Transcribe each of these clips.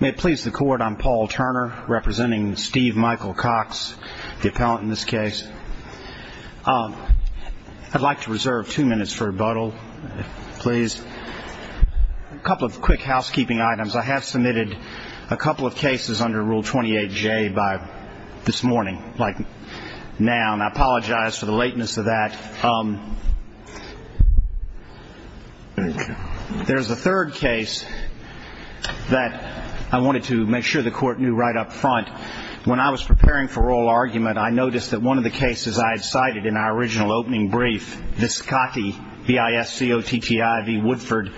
May it please the court, I'm Paul Turner, representing Steve Michael Cox, the appellant in this case. I'd like to reserve two minutes for rebuttal, please. A couple of quick housekeeping items. I have submitted a couple of cases under Rule 28J by this morning, like now, and I apologize for the lateness of that. There's a third case that I wanted to make sure the court knew right up front. When I was preparing for oral argument, I noticed that one of the cases I had cited in our original opening brief, Viscotti, V-I-S-C-O-T-T-I-V, Woodford,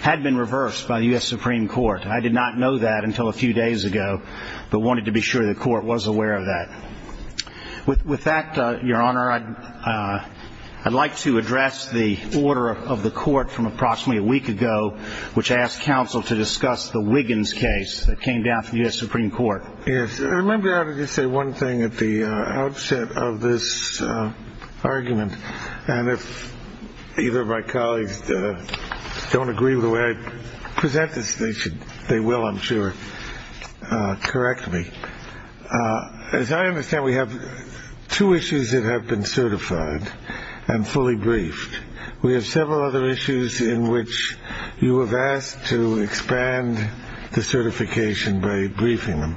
had been reversed by the U.S. Supreme Court. I did not know that until a few days ago, but wanted to be sure the court was aware of that. With that, Your Honor, I'd like to address the order of the court from approximately a week ago, which asked counsel to discuss the Wiggins case that came down from the U.S. Supreme Court. Yes. Remember, I would just say one thing at the outset of this argument, and if either of my colleagues don't agree with the way I present this, they will, I'm sure, correct me. As I understand, we have two issues that have been certified and fully briefed. We have several other issues in which you have asked to expand the certification by briefing them.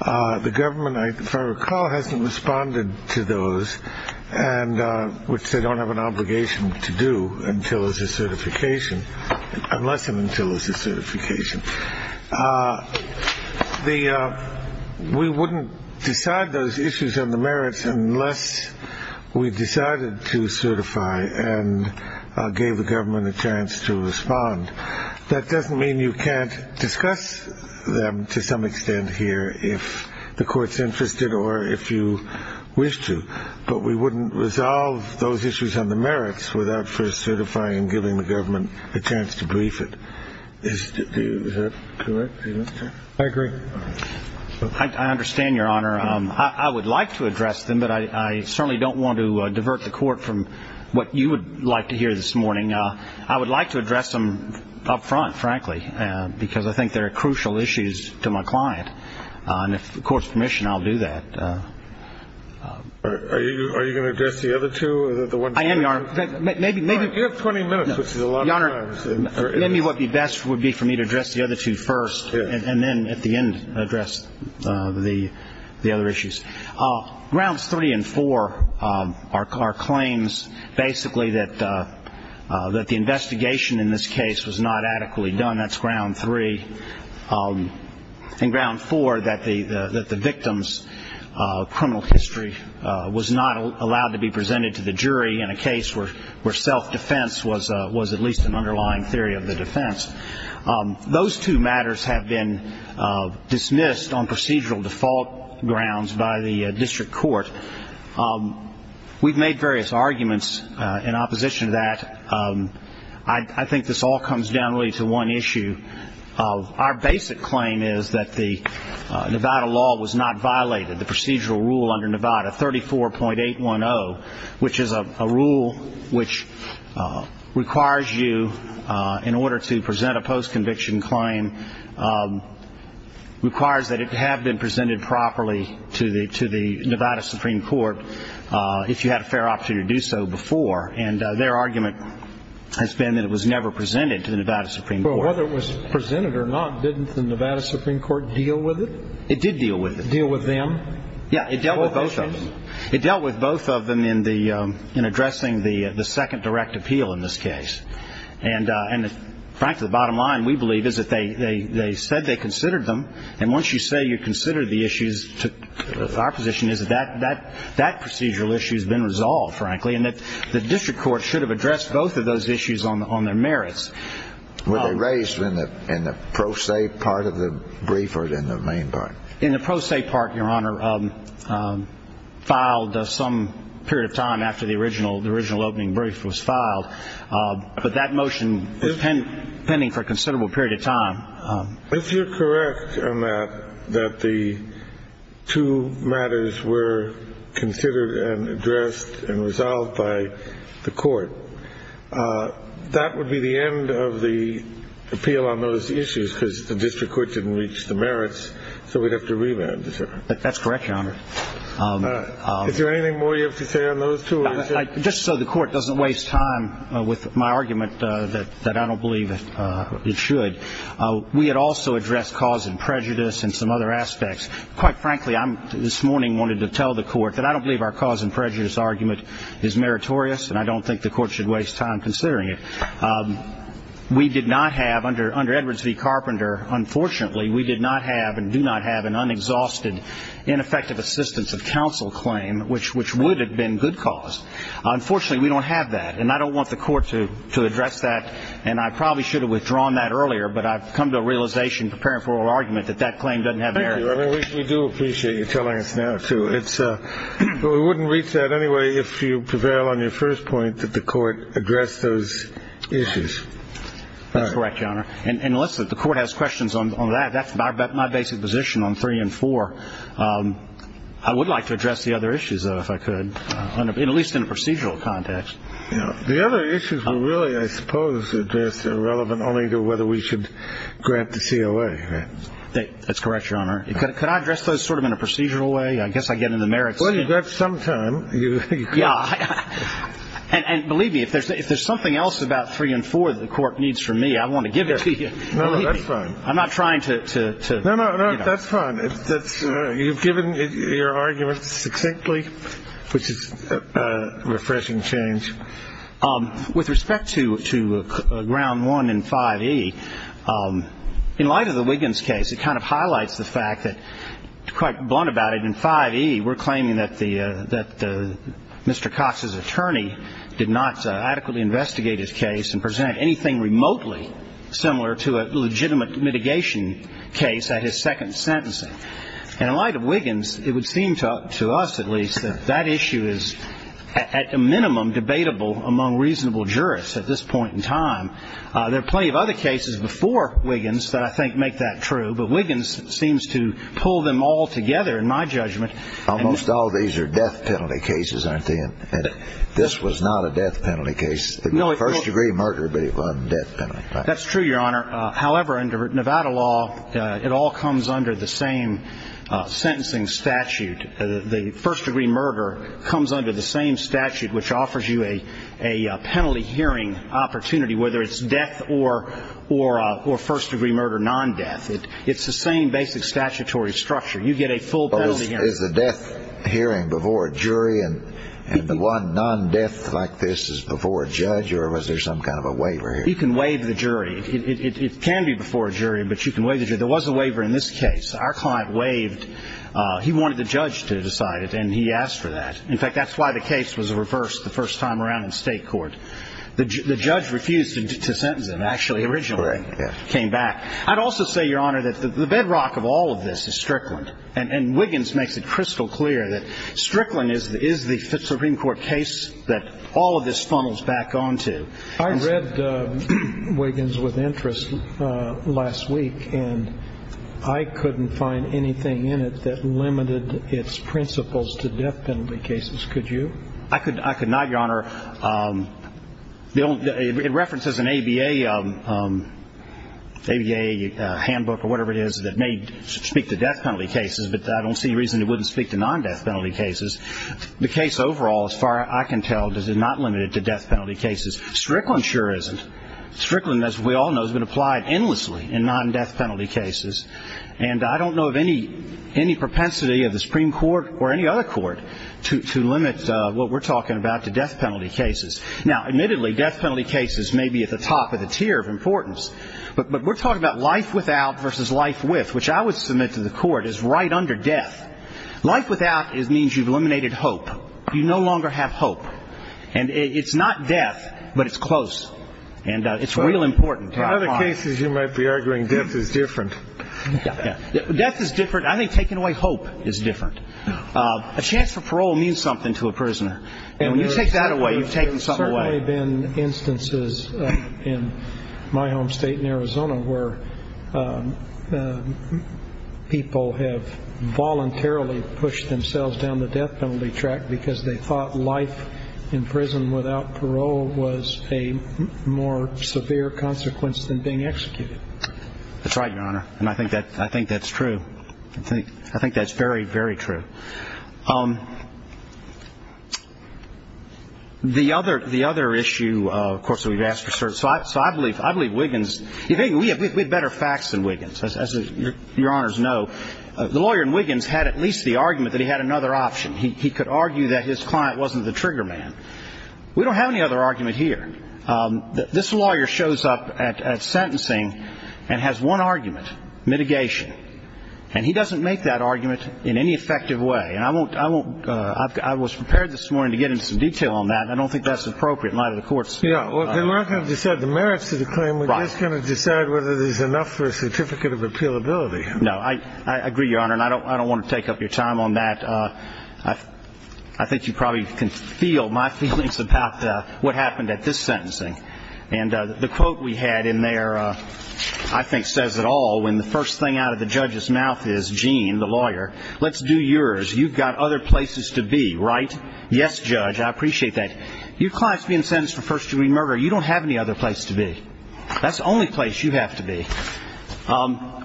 The government, if I recall, hasn't responded to those, which they don't have an obligation to do until there's a certification, unless and until there's a certification. We wouldn't decide those issues on the merits unless we decided to certify and gave the government a chance to respond. That doesn't mean you can't discuss them to some extent here if the court's interested or if you wish to, but we wouldn't resolve those issues on the merits without first certifying and giving the government a chance to brief it. Is that correct? I agree. I understand, Your Honor. I would like to address them, but I certainly don't want to divert the court from what you would like to hear this morning. I would like to address them up front, frankly, because I think they're crucial issues to my client. And if the court's permission, I'll do that. Are you going to address the other two? I am, Your Honor. You have 20 minutes, which is a lot of time. Maybe what would be best would be for me to address the other two first and then at the end address the other issues. Grounds three and four are claims basically that the investigation in this case was not adequately done. That's ground three. And ground four, that the victim's criminal history was not allowed to be presented to the jury in a case where self-defense was at least an underlying theory of the defense. Those two matters have been dismissed on procedural default grounds by the district court. We've made various arguments in opposition to that. I think this all comes down really to one issue. Our basic claim is that the Nevada law was not violated, the procedural rule under Nevada 34.810, which is a rule which requires you, in order to present a post-conviction claim, requires that it have been presented properly to the Nevada Supreme Court if you had a fair opportunity to do so before. And their argument has been that it was never presented to the Nevada Supreme Court. Well, whether it was presented or not, didn't the Nevada Supreme Court deal with it? It did deal with it. Deal with them? Yeah, it dealt with both of them. Both of them in addressing the second direct appeal in this case. And, frankly, the bottom line, we believe, is that they said they considered them. And once you say you consider the issues, our position is that that procedural issue has been resolved, frankly, and that the district court should have addressed both of those issues on their merits. Were they raised in the pro se part of the brief or in the main part? In the pro se part, Your Honor, filed some period of time after the original opening brief was filed. But that motion was pending for a considerable period of time. If you're correct on that, that the two matters were considered and addressed and resolved by the court, that would be the end of the appeal on those issues because the district court didn't reach the merits, so we'd have to revamp the circuit. That's correct, Your Honor. Is there anything more you have to say on those two? Just so the court doesn't waste time with my argument that I don't believe it should, we had also addressed cause and prejudice and some other aspects. Quite frankly, I this morning wanted to tell the court that I don't believe our cause and prejudice argument is meritorious, and I don't think the court should waste time considering it. We did not have under Edwards v. Carpenter, unfortunately, we did not have and do not have an unexhausted ineffective assistance of counsel claim, which would have been good cause. Unfortunately, we don't have that, and I don't want the court to address that, and I probably should have withdrawn that earlier, but I've come to a realization preparing for our argument that that claim doesn't have merit. Thank you. I wish we do appreciate you telling us now, too. We wouldn't reach that anyway if you prevail on your first point that the court addressed those issues. That's correct, Your Honor. And listen, the court has questions on that. That's my basic position on three and four. I would like to address the other issues, though, if I could, at least in a procedural context. The other issues were really, I suppose, addressed irrelevant only to whether we should grant the COA. That's correct, Your Honor. Could I address those sort of in a procedural way? I guess I get in the merits. Well, you've got some time. Yeah. And believe me, if there's something else about three and four that the court needs from me, I want to give it to you. No, no, that's fine. I'm not trying to, you know. No, no, that's fine. You've given your argument succinctly, which is a refreshing change. With respect to ground one and 5E, in light of the Wiggins case, it kind of highlights the fact that, quite blunt about it, in 5E, we're claiming that Mr. Cox's attorney did not adequately investigate his case and present anything remotely similar to a legitimate mitigation case at his second sentencing. And in light of Wiggins, it would seem to us, at least, that that issue is at a minimum debatable among reasonable jurists at this point in time. There are plenty of other cases before Wiggins that I think make that true, but Wiggins seems to pull them all together, in my judgment. Almost all of these are death penalty cases, aren't they? And this was not a death penalty case. It was a first-degree murder, but it wasn't a death penalty. That's true, Your Honor. However, under Nevada law, it all comes under the same sentencing statute. The first-degree murder comes under the same statute, which offers you a penalty hearing opportunity, whether it's death or first-degree murder non-death. It's the same basic statutory structure. You get a full penalty hearing. Is the death hearing before a jury, and the one non-death like this is before a judge, or was there some kind of a waiver here? You can waive the jury. It can be before a jury, but you can waive the jury. There was a waiver in this case. Our client waived. He wanted the judge to decide it, and he asked for that. In fact, that's why the case was reversed the first time around in state court. The judge refused to sentence him, actually, originally. He came back. I'd also say, Your Honor, that the bedrock of all of this is Strickland, and Wiggins makes it crystal clear that Strickland is the Supreme Court case that all of this funnels back onto. I read Wiggins with interest last week, and I couldn't find anything in it that limited its principles to death penalty cases. Could you? I could not, Your Honor. It references an ABA handbook or whatever it is that may speak to death penalty cases, but I don't see a reason it wouldn't speak to non-death penalty cases. The case overall, as far as I can tell, is not limited to death penalty cases. Strickland sure isn't. Strickland, as we all know, has been applied endlessly in non-death penalty cases, and I don't know of any propensity of the Supreme Court or any other court to limit what we're talking about to death penalty cases. Now, admittedly, death penalty cases may be at the top of the tier of importance, but we're talking about life without versus life with, which I would submit to the court is right under death. Life without means you've eliminated hope. You no longer have hope. And it's not death, but it's close, and it's real important. In other cases, you might be arguing death is different. Death is different. I think taking away hope is different. A chance for parole means something to a prisoner, and when you take that away, you've taken something away. There have certainly been instances in my home state in Arizona where people have voluntarily pushed themselves down the death penalty track because they thought life in prison without parole was a more severe consequence than being executed. That's right, Your Honor, and I think that's true. I think that's very, very true. The other issue, of course, that we've asked for certain – so I believe Wiggins – we have better facts than Wiggins, as Your Honors know. The lawyer in Wiggins had at least the argument that he had another option. He could argue that his client wasn't the trigger man. We don't have any other argument here. This lawyer shows up at sentencing and has one argument, mitigation, and he doesn't make that argument in any effective way. And I won't – I was prepared this morning to get into some detail on that. I don't think that's appropriate in light of the Court's – Yeah, we're not going to decide the merits of the claim. We're just going to decide whether there's enough for a certificate of appealability. No, I agree, Your Honor, and I don't want to take up your time on that. I think you probably can feel my feelings about what happened at this sentencing. And the quote we had in there, I think, says it all. When the first thing out of the judge's mouth is, Gene, the lawyer, let's do yours. You've got other places to be, right? Yes, Judge, I appreciate that. Your client's being sentenced for first-degree murder. You don't have any other place to be. That's the only place you have to be.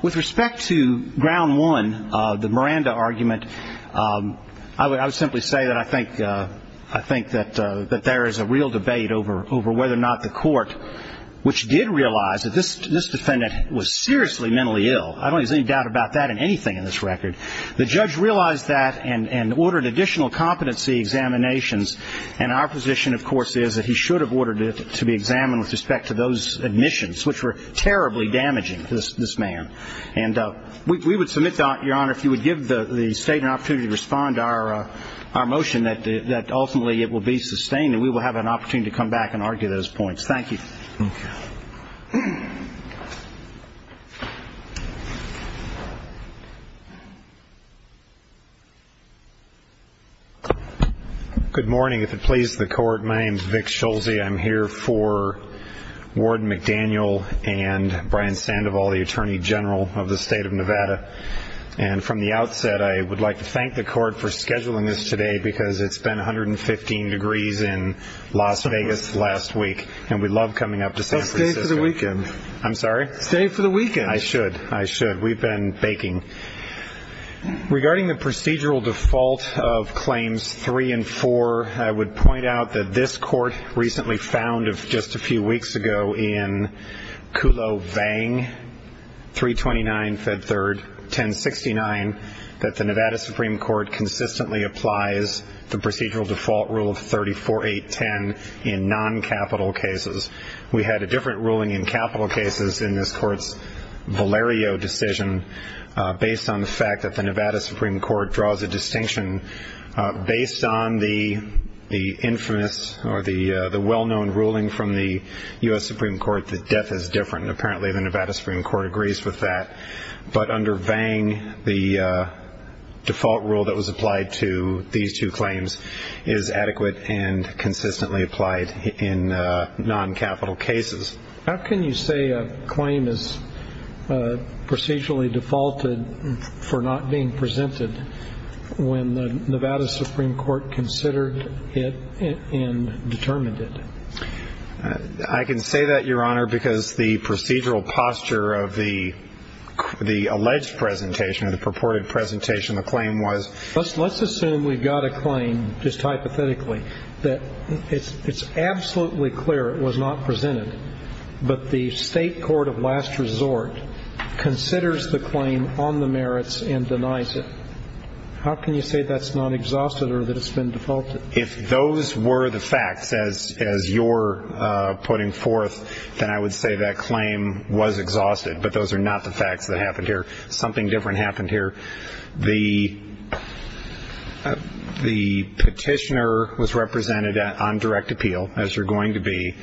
With respect to ground one, the Miranda argument, I would simply say that I think that there is a real debate over whether or not the court, which did realize that this defendant was seriously mentally ill. I don't see any doubt about that in anything in this record. The judge realized that and ordered additional competency examinations. And our position, of course, is that he should have ordered it to be examined with respect to those admissions, which were terribly damaging to this man. And we would submit, Your Honor, if you would give the State an opportunity to respond to our motion, that ultimately it will be sustained and we will have an opportunity to come back and argue those points. Thank you. Good morning. If it pleases the Court, my name's Vic Schulze. I'm here for Warden McDaniel and Brian Sandoval, the Attorney General of the State of Nevada. And from the outset, I would like to thank the Court for scheduling this today because it's been 115 degrees in Las Vegas last week, and we love coming up to San Francisco. Stay for the weekend. I'm sorry? Stay for the weekend. I should. I should. We've been baking. Regarding the procedural default of Claims 3 and 4, I would point out that this Court recently found just a few weeks ago in Kulovang 329, Fed 3rd, 1069, that the Nevada Supreme Court consistently applies the procedural default rule of 34.810 in non-capital cases. We had a different ruling in capital cases in this Court's Valerio decision based on the fact that the Nevada Supreme Court draws a distinction based on the infamous or the well-known ruling from the U.S. Supreme Court that death is different, and apparently the Nevada Supreme Court agrees with that. But under Vang, the default rule that was applied to these two claims is adequate and consistently applied in non-capital cases. How can you say a claim is procedurally defaulted for not being presented when the Nevada Supreme Court considered it and determined it? I can say that, Your Honor, because the procedural posture of the alleged presentation or the purported presentation of the claim was. Let's assume we've got a claim, just hypothetically, that it's absolutely clear it was not presented, but the state court of last resort considers the claim on the merits and denies it. How can you say that's not exhausted or that it's been defaulted? If those were the facts, as you're putting forth, then I would say that claim was exhausted, but those are not the facts that happened here. Something different happened here. The petitioner was represented on direct appeal, as you're going to be,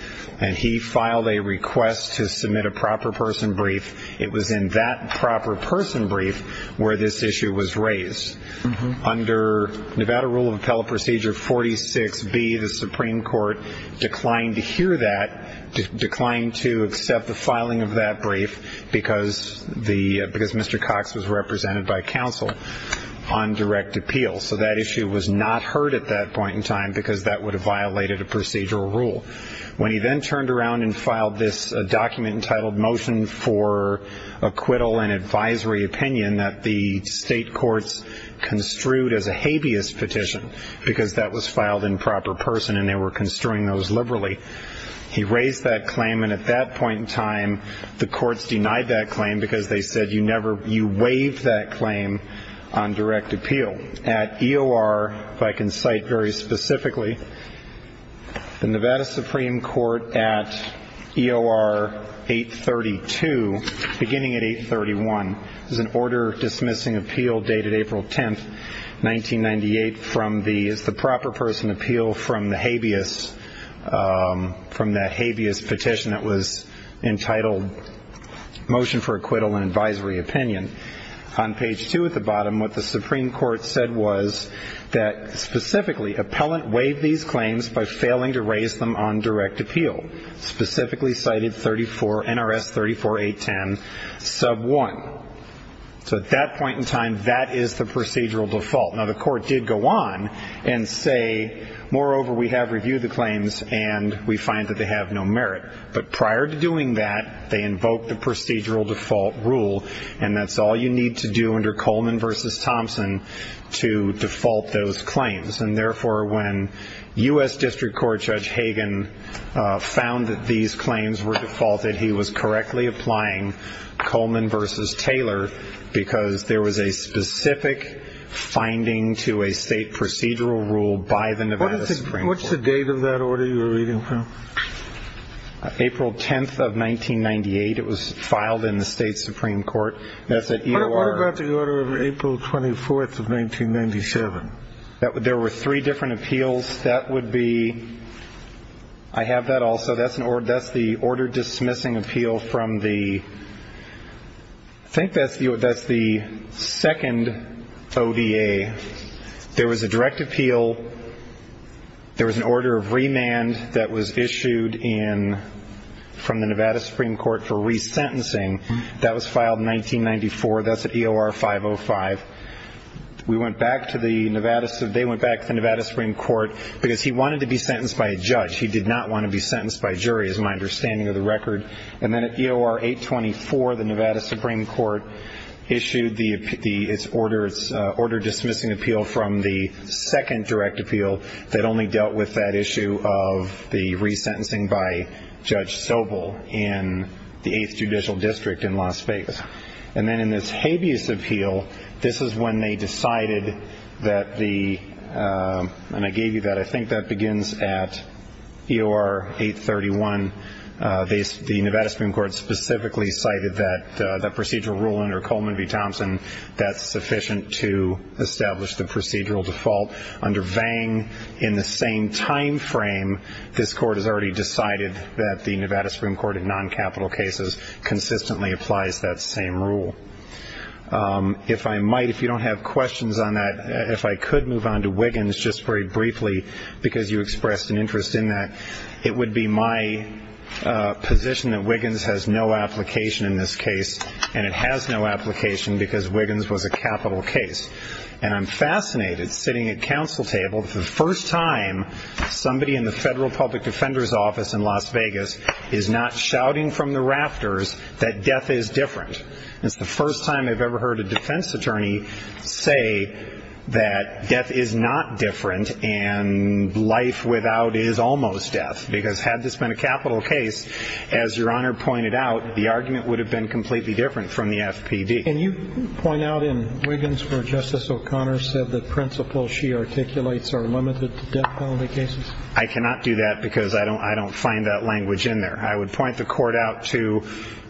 and he filed a request to submit a proper person brief. It was in that proper person brief where this issue was raised. Under Nevada Rule of Appellate Procedure 46B, the Supreme Court declined to hear that, declined to accept the filing of that brief because Mr. Cox was represented by counsel on direct appeal. So that issue was not heard at that point in time because that would have violated a procedural rule. When he then turned around and filed this document entitled Motion for Acquittal and Advisory Opinion that the state courts construed as a habeas petition because that was filed in proper person and they were construing those liberally, he raised that claim, and at that point in time the courts denied that claim because they said you waived that claim on direct appeal. At EOR, if I can cite very specifically, the Nevada Supreme Court at EOR 832, beginning at 831, there's an order dismissing appeal dated April 10, 1998 from the proper person appeal from the habeas, from that habeas petition that was entitled Motion for Acquittal and Advisory Opinion. On page 2 at the bottom, what the Supreme Court said was that specifically, appellant waived these claims by failing to raise them on direct appeal, specifically cited NRS 34810 sub 1. So at that point in time, that is the procedural default. Now, the court did go on and say, moreover, we have reviewed the claims and we find that they have no merit. But prior to doing that, they invoked the procedural default rule, and that's all you need to do under Coleman v. Thompson to default those claims. And therefore, when U.S. District Court Judge Hagan found that these claims were defaulted, he was correctly applying Coleman v. Taylor because there was a specific finding to a state procedural rule by the Nevada Supreme Court. What's the date of that order you were reading from? April 10th of 1998. It was filed in the state Supreme Court. What about the order of April 24th of 1997? There were three different appeals. That would be – I have that also. That's the order dismissing appeal from the – I think that's the second ODA. There was a direct appeal. There was an order of remand that was issued from the Nevada Supreme Court for resentencing. That was filed in 1994. That's at EOR 505. We went back to the Nevada – they went back to the Nevada Supreme Court because he wanted to be sentenced by a judge. He did not want to be sentenced by a jury, is my understanding of the record. And then at EOR 824, the Nevada Supreme Court issued the – its order dismissing appeal from the second direct appeal that only dealt with that issue of the resentencing by Judge Sobel in the 8th Judicial District in Las Vegas. And then in this habeas appeal, this is when they decided that the – and I gave you that. I think that begins at EOR 831. The Nevada Supreme Court specifically cited that procedural rule under Coleman v. Thompson that's sufficient to establish the procedural default. Under Vang, in the same timeframe, this court has already decided that the Nevada Supreme Court in non-capital cases consistently applies that same rule. If I might, if you don't have questions on that, if I could move on to Wiggins just very briefly because you expressed an interest in that. It would be my position that Wiggins has no application in this case, and it has no application because Wiggins was a capital case. And I'm fascinated, sitting at counsel table, the first time somebody in the Federal Public Defender's Office in Las Vegas is not shouting from the rafters that death is different. It's the first time I've ever heard a defense attorney say that death is not different and life without is almost death because had this been a capital case, as Your Honor pointed out, the argument would have been completely different from the FPD. Can you point out in Wiggins where Justice O'Connor said that principles she articulates are limited to death penalty cases? I cannot do that because I don't find that language in there. I would point the court out to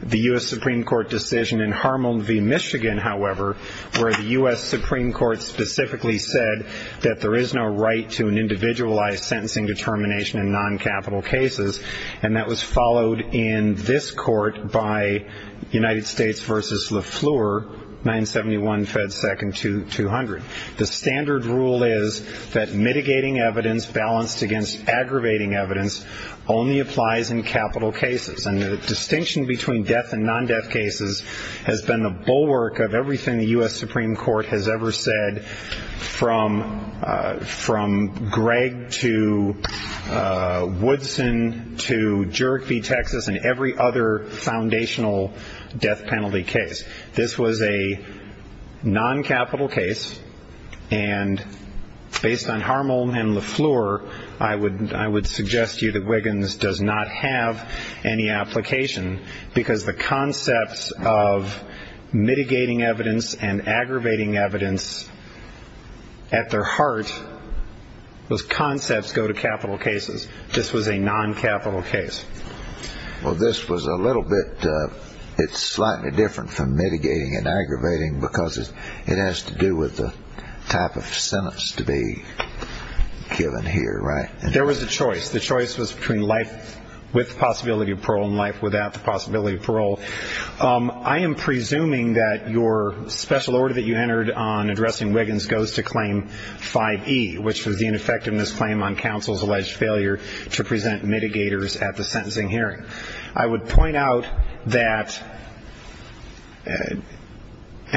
the U.S. Supreme Court decision in Harmon v. Michigan, however, where the U.S. Supreme Court specifically said that there is no right to an individualized sentencing determination in non-capital cases, and that was followed in this court by United States v. Le Fleur, 971 Fed Second 200. The standard rule is that mitigating evidence balanced against aggravating evidence only applies in capital cases, and the distinction between death and non-death cases has been the bulwark of everything the U.S. Supreme Court has ever said, from Gregg to Woodson to Jurek v. Texas and every other foundational death penalty case. This was a non-capital case, and based on Harmon and Le Fleur, I would suggest to you that Wiggins does not have any application because the concepts of mitigating evidence and aggravating evidence at their heart, those concepts go to capital cases. This was a non-capital case. Well, this was a little bit slightly different from mitigating and aggravating because it has to do with the type of sentence to be given here, right? There was a choice. The choice was between life with the possibility of parole and life without the possibility of parole. I am presuming that your special order that you entered on addressing Wiggins goes to claim 5E, which was the ineffectiveness claim on counsel's alleged failure to present mitigators at the sentencing hearing. I would point out that, and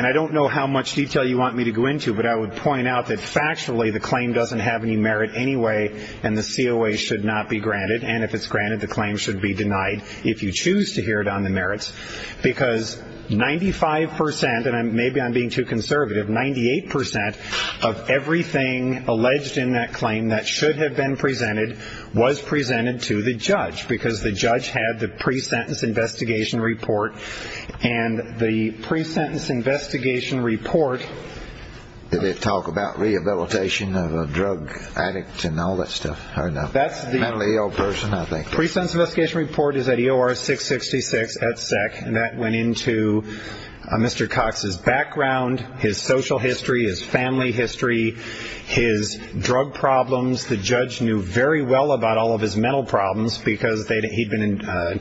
I don't know how much detail you want me to go into, but I would point out that factually the claim doesn't have any merit anyway, and the COA should not be granted. And if it's granted, the claim should be denied if you choose to hear it on the merits, because 95 percent, and maybe I'm being too conservative, 98 percent of everything alleged in that claim that should have been presented was presented to the judge because the judge had the pre-sentence investigation report, and the pre-sentence investigation report. Did it talk about rehabilitation of a drug addict and all that stuff? Or a mentally ill person, I think. The pre-sentence investigation report is at EOR666 at SEC, and that went into Mr. Cox's background, his social history, his family history, his drug problems. The judge knew very well about all of his mental problems because he'd been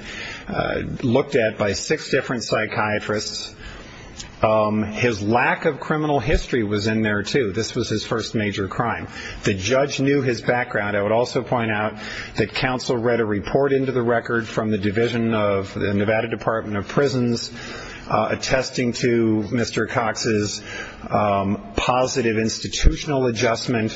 looked at by six different psychiatrists. His lack of criminal history was in there, too. This was his first major crime. The judge knew his background. I would also point out that counsel read a report into the record from the division of the Nevada Department of Prisons attesting to Mr. Cox's positive institutional adjustment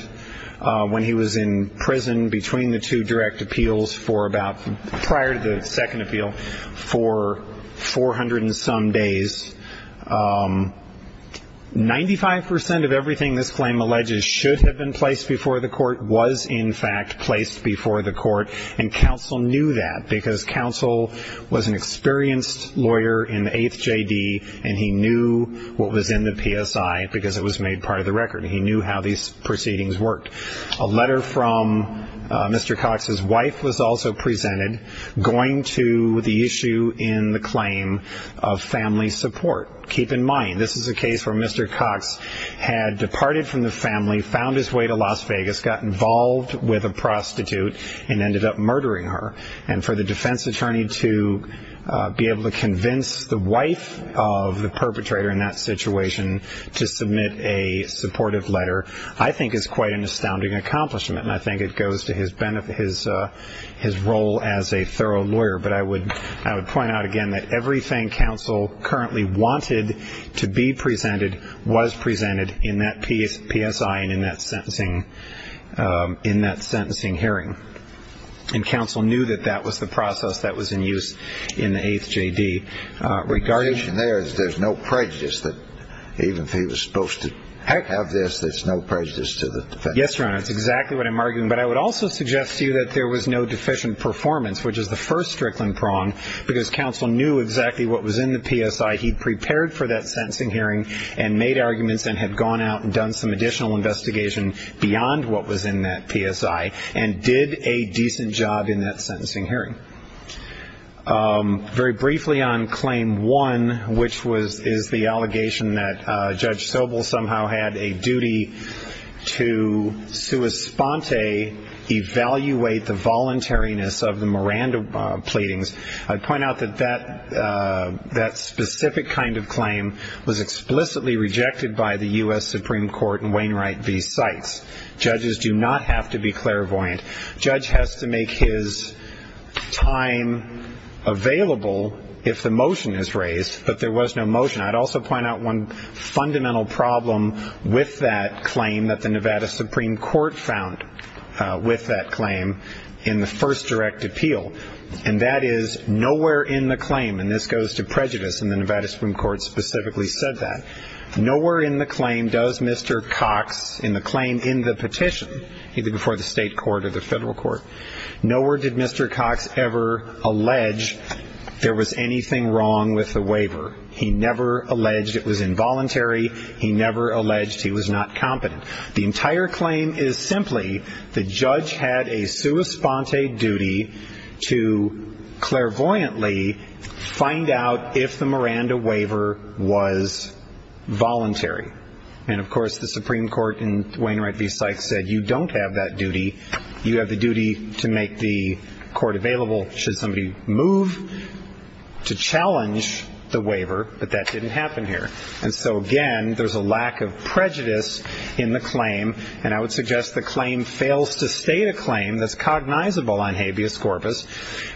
when he was in prison between the two direct appeals for about, prior to the second appeal, for 400 and some days. Ninety-five percent of everything this claim alleges should have been placed before the court was, in fact, placed before the court, and counsel knew that because counsel was an experienced lawyer in the 8th J.D., and he knew what was in the PSI because it was made part of the record. He knew how these proceedings worked. A letter from Mr. Cox's wife was also presented going to the issue in the claim of family support. Keep in mind, this is a case where Mr. Cox had departed from the family, found his way to Las Vegas, got involved with a prostitute, and ended up murdering her. And for the defense attorney to be able to convince the wife of the perpetrator in that situation to submit a supportive letter, I think is quite an astounding accomplishment, and I think it goes to his role as a thorough lawyer. But I would point out again that everything counsel currently wanted to be presented was presented in that PSI and in that sentencing hearing, and counsel knew that that was the process that was in use in the 8th J.D. There's no prejudice that even if he was supposed to have this, there's no prejudice to the defense attorney. Yes, Your Honor, that's exactly what I'm arguing. But I would also suggest to you that there was no deficient performance, which is the first Strickland prong, because counsel knew exactly what was in the PSI. He prepared for that sentencing hearing and made arguments and had gone out and done some additional investigation beyond what was in that PSI and did a decent job in that sentencing hearing. Very briefly on Claim 1, which is the allegation that Judge Sobel somehow had a duty to sui sponte, evaluate the voluntariness of the Miranda pleadings, I'd point out that that specific kind of claim was explicitly rejected by the U.S. Supreme Court in Wainwright v. Seitz. Judges do not have to be clairvoyant. Judge has to make his time available if the motion is raised, but there was no motion. I'd also point out one fundamental problem with that claim that the Nevada Supreme Court found with that claim in the first direct appeal, and that is nowhere in the claim, and this goes to prejudice, and the Nevada Supreme Court specifically said that, nowhere in the claim does Mr. Cox in the claim in the petition, either before the state court or the federal court, nowhere did Mr. Cox ever allege there was anything wrong with the waiver. He never alleged it was involuntary. He never alleged he was not competent. The entire claim is simply the judge had a sui sponte duty to clairvoyantly find out if the Miranda waiver was voluntary, and, of course, the Supreme Court in Wainwright v. Seitz said you don't have that duty. You have the duty to make the court available should somebody move to challenge the waiver, but that didn't happen here, and so, again, there's a lack of prejudice in the claim, and I would suggest the claim fails to state a claim that's cognizable on habeas corpus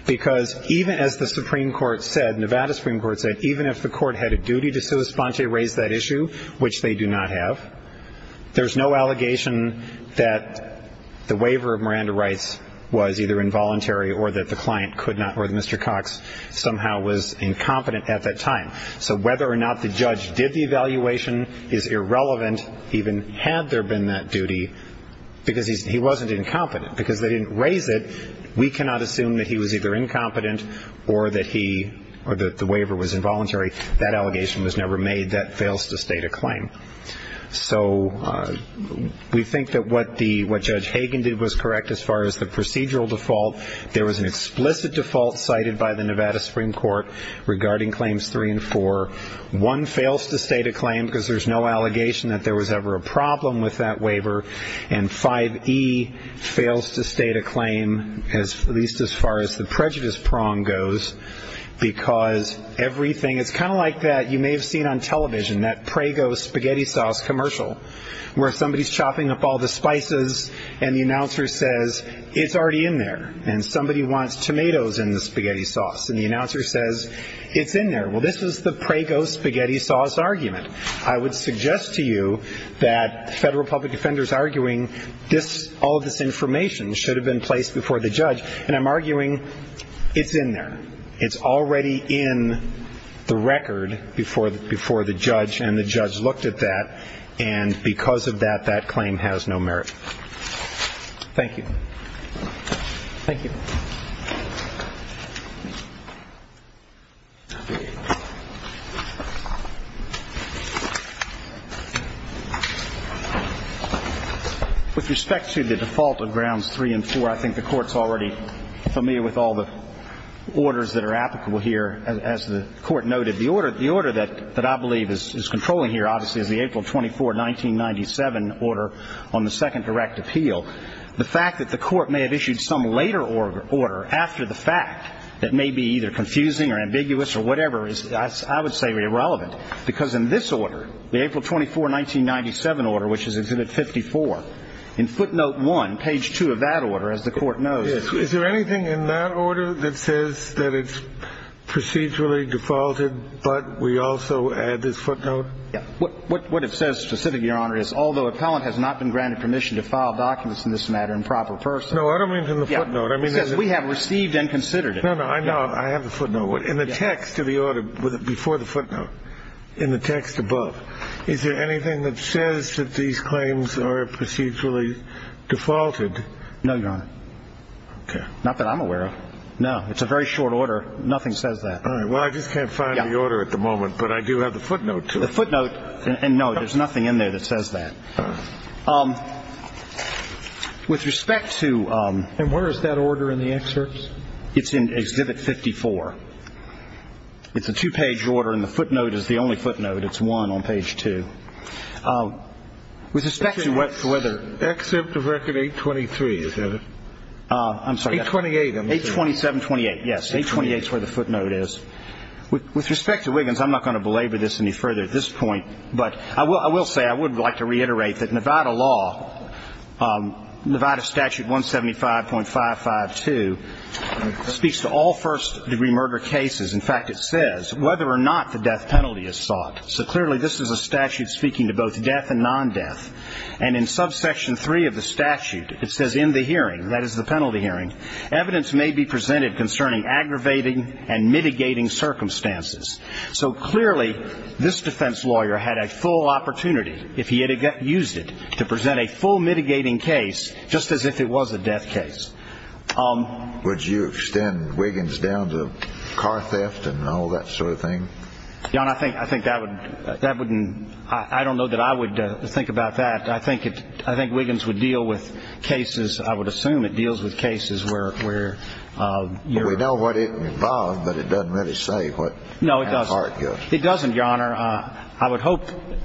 because even as the Supreme Court said, Nevada Supreme Court said, even if the court had a duty to sui sponte raise that issue, which they do not have, there's no allegation that the waiver of Miranda rights was either involuntary or that the client could not or that Mr. Cox somehow was incompetent at that time, so whether or not the judge did the evaluation is irrelevant even had there been that duty because he wasn't incompetent. Because they didn't raise it, we cannot assume that he was either incompetent or that he or that the waiver was involuntary. That allegation was never made. That fails to state a claim. So we think that what Judge Hagen did was correct as far as the procedural default. There was an explicit default cited by the Nevada Supreme Court regarding claims three and four. One fails to state a claim because there's no allegation that there was ever a problem with that waiver, and 5E fails to state a claim at least as far as the prejudice prong goes because everything is kind of like that you may have seen on television, that Prego spaghetti sauce commercial where somebody's chopping up all the spices and the announcer says, it's already in there, and somebody wants tomatoes in the spaghetti sauce, and the announcer says, it's in there. Well, this is the Prego spaghetti sauce argument. I would suggest to you that federal public defenders arguing all of this information should have been placed before the judge, and I'm arguing it's in there. It's already in the record before the judge, and the judge looked at that, and because of that, that claim has no merit. Thank you. Thank you. With respect to the default of grounds three and four, I think the Court's already familiar with all the orders that are applicable here. As the Court noted, the order that I believe is controlling here, obviously, is the April 24, 1997 order on the second direct appeal. The fact that the Court may have issued some later order after the fact that may be either confusing or ambiguous or whatever is, I would say, irrelevant because in this order, the April 24, 1997 order, which is Exhibit 54, in footnote one, page two of that order, as the Court knows. Is there anything in that order that says that it's procedurally defaulted, but we also add this footnote? Yeah. What it says specifically, Your Honor, is although appellant has not been granted permission to file documents in this matter in proper person. No, I don't mean from the footnote. It says we have received and considered it. No, no, I know. I have the footnote. In the text of the order before the footnote, in the text above, is there anything that says that these claims are procedurally defaulted? No, Your Honor. Okay. Not that I'm aware of. No. It's a very short order. Nothing says that. All right. Well, I just can't find the order at the moment. But I do have the footnote, too. The footnote. And, no, there's nothing in there that says that. With respect to ---- And where is that order in the excerpts? It's in Exhibit 54. It's a two-page order, and the footnote is the only footnote. It's one on page two. With respect to whether ---- Exhibit of record 823, is that it? I'm sorry. 828. 827-28. Yes. 828 is where the footnote is. With respect to Wiggins, I'm not going to belabor this any further at this point, but I will say I would like to reiterate that Nevada law, Nevada statute 175.552, speaks to all first-degree murder cases. In fact, it says whether or not the death penalty is sought. So, clearly, this is a statute speaking to both death and non-death. And in subsection 3 of the statute, it says in the hearing, that is the penalty hearing, evidence may be presented concerning aggravating and mitigating circumstances. So, clearly, this defense lawyer had a full opportunity, if he had used it, to present a full mitigating case just as if it was a death case. Would you extend Wiggins down to car theft and all that sort of thing? Your Honor, I think that wouldn't, I don't know that I would think about that. I think Wiggins would deal with cases, I would assume it deals with cases where... We know what it involved, but it doesn't really say what... No, it doesn't, Your Honor. I would hope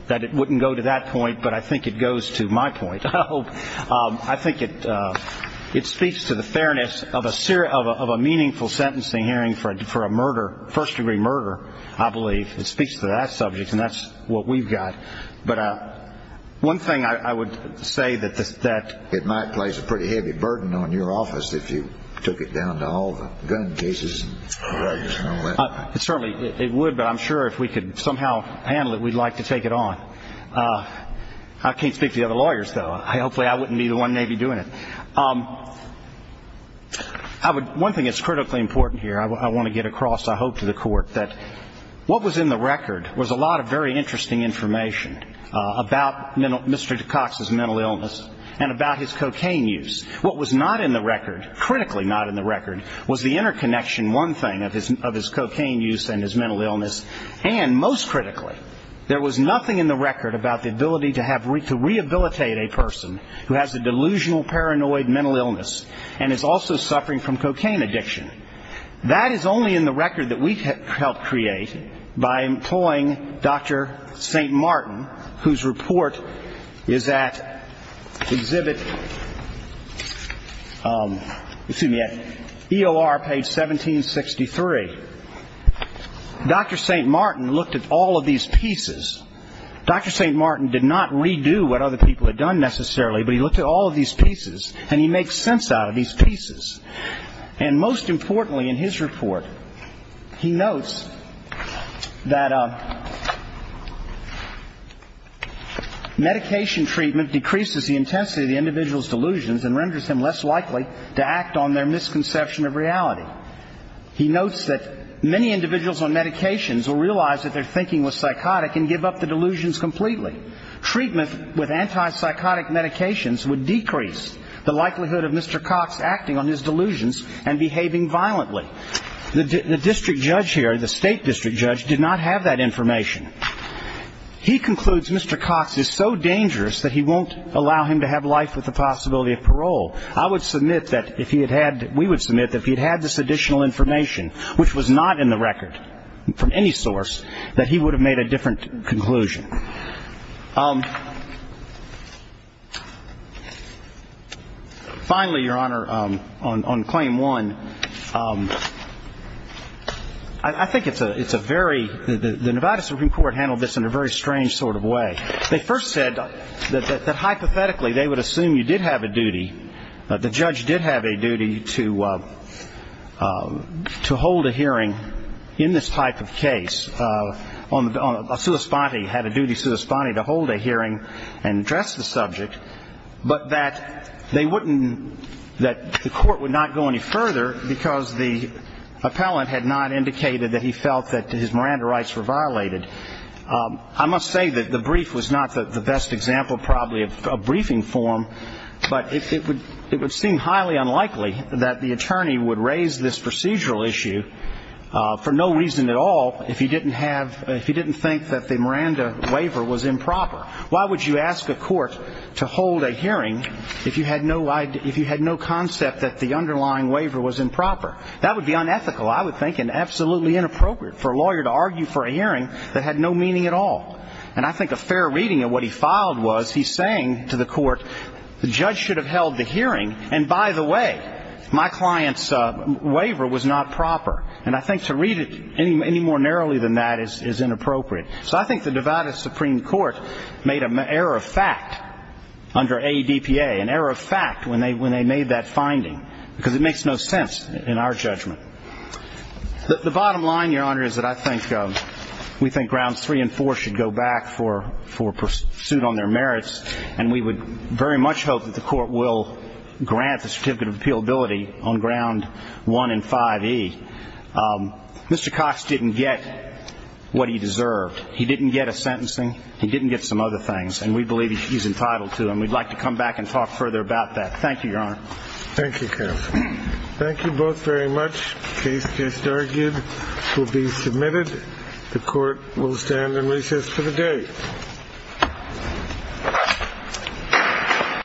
that it wouldn't go to that point, but I think it goes to my point. I think it speaks to the fairness of a meaningful sentencing hearing for a murder, first-degree murder, I believe. It speaks to that subject, and that's what we've got. But one thing I would say that... It might place a pretty heavy burden on your office if you took it down to all the gun cases. It certainly would, but I'm sure if we could somehow handle it, we'd like to take it on. I can't speak to the other lawyers, though. Hopefully I wouldn't be the one maybe doing it. One thing that's critically important here I want to get across, I hope, to the Court, that what was in the record was a lot of very interesting information about Mr. Cox's mental illness and about his cocaine use. What was not in the record, critically not in the record, was the interconnection, one thing, of his cocaine use and his mental illness. And most critically, there was nothing in the record about the ability to rehabilitate a person who has a delusional, paranoid mental illness and is also suffering from cocaine addiction. That is only in the record that we helped create by employing Dr. St. Martin, whose report is at exhibit, excuse me, at EOR page 1763. Dr. St. Martin looked at all of these pieces. Dr. St. Martin did not redo what other people had done, necessarily, but he looked at all of these pieces, and he makes sense out of these pieces. And most importantly in his report, he notes that medication treatment decreases the intensity of the individual's delusions and renders them less likely to act on their misconception of reality. He notes that many individuals on medications will realize that their thinking was psychotic and give up the delusions completely. Treatment with antipsychotic medications would decrease the likelihood of Mr. Cox acting on his delusions and behaving violently. The district judge here, the state district judge, did not have that information. He concludes Mr. Cox is so dangerous that he won't allow him to have life with the possibility of parole. I would submit that if he had had, we would submit that if he had had this additional information, which was not in the record from any source, that he would have made a different conclusion. Finally, Your Honor, on claim one, I think it's a very ñ the Nevada Supreme Court handled this in a very strange sort of way. They first said that hypothetically they would assume you did have a duty, that the judge did have a duty to hold a hearing in this type of case. A sua sponte had a duty, sua sponte, to hold a hearing and address the subject, but that they wouldn't ñ that the court would not go any further because the appellant had not indicated that he felt that his Miranda rights were violated. I must say that the brief was not the best example, probably, of a briefing form, but it would seem highly unlikely that the attorney would raise this procedural issue for no reason at all if he didn't have ñ if he didn't think that the Miranda waiver was improper. Why would you ask a court to hold a hearing if you had no idea ñ if you had no concept that the underlying waiver was improper? That would be unethical, I would think, and absolutely inappropriate for a lawyer to argue for a hearing that had no meaning at all. And I think a fair reading of what he filed was he's saying to the court, the judge should have held the hearing, and by the way, my client's waiver was not proper. And I think to read it any more narrowly than that is inappropriate. So I think the divided Supreme Court made an error of fact under ADPA, an error of fact when they made that finding, because it makes no sense in our judgment. The bottom line, Your Honor, is that I think we think grounds three and four should go back for pursuit on their merits, and we would very much hope that the court will grant the certificate of appealability on ground one and 5E. Mr. Cox didn't get what he deserved. He didn't get a sentencing. He didn't get some other things, and we believe he's entitled to them. We'd like to come back and talk further about that. Thank you, Your Honor. Thank you, counsel. Thank you both very much. The case just argued will be submitted. The court will stand and recess for the day.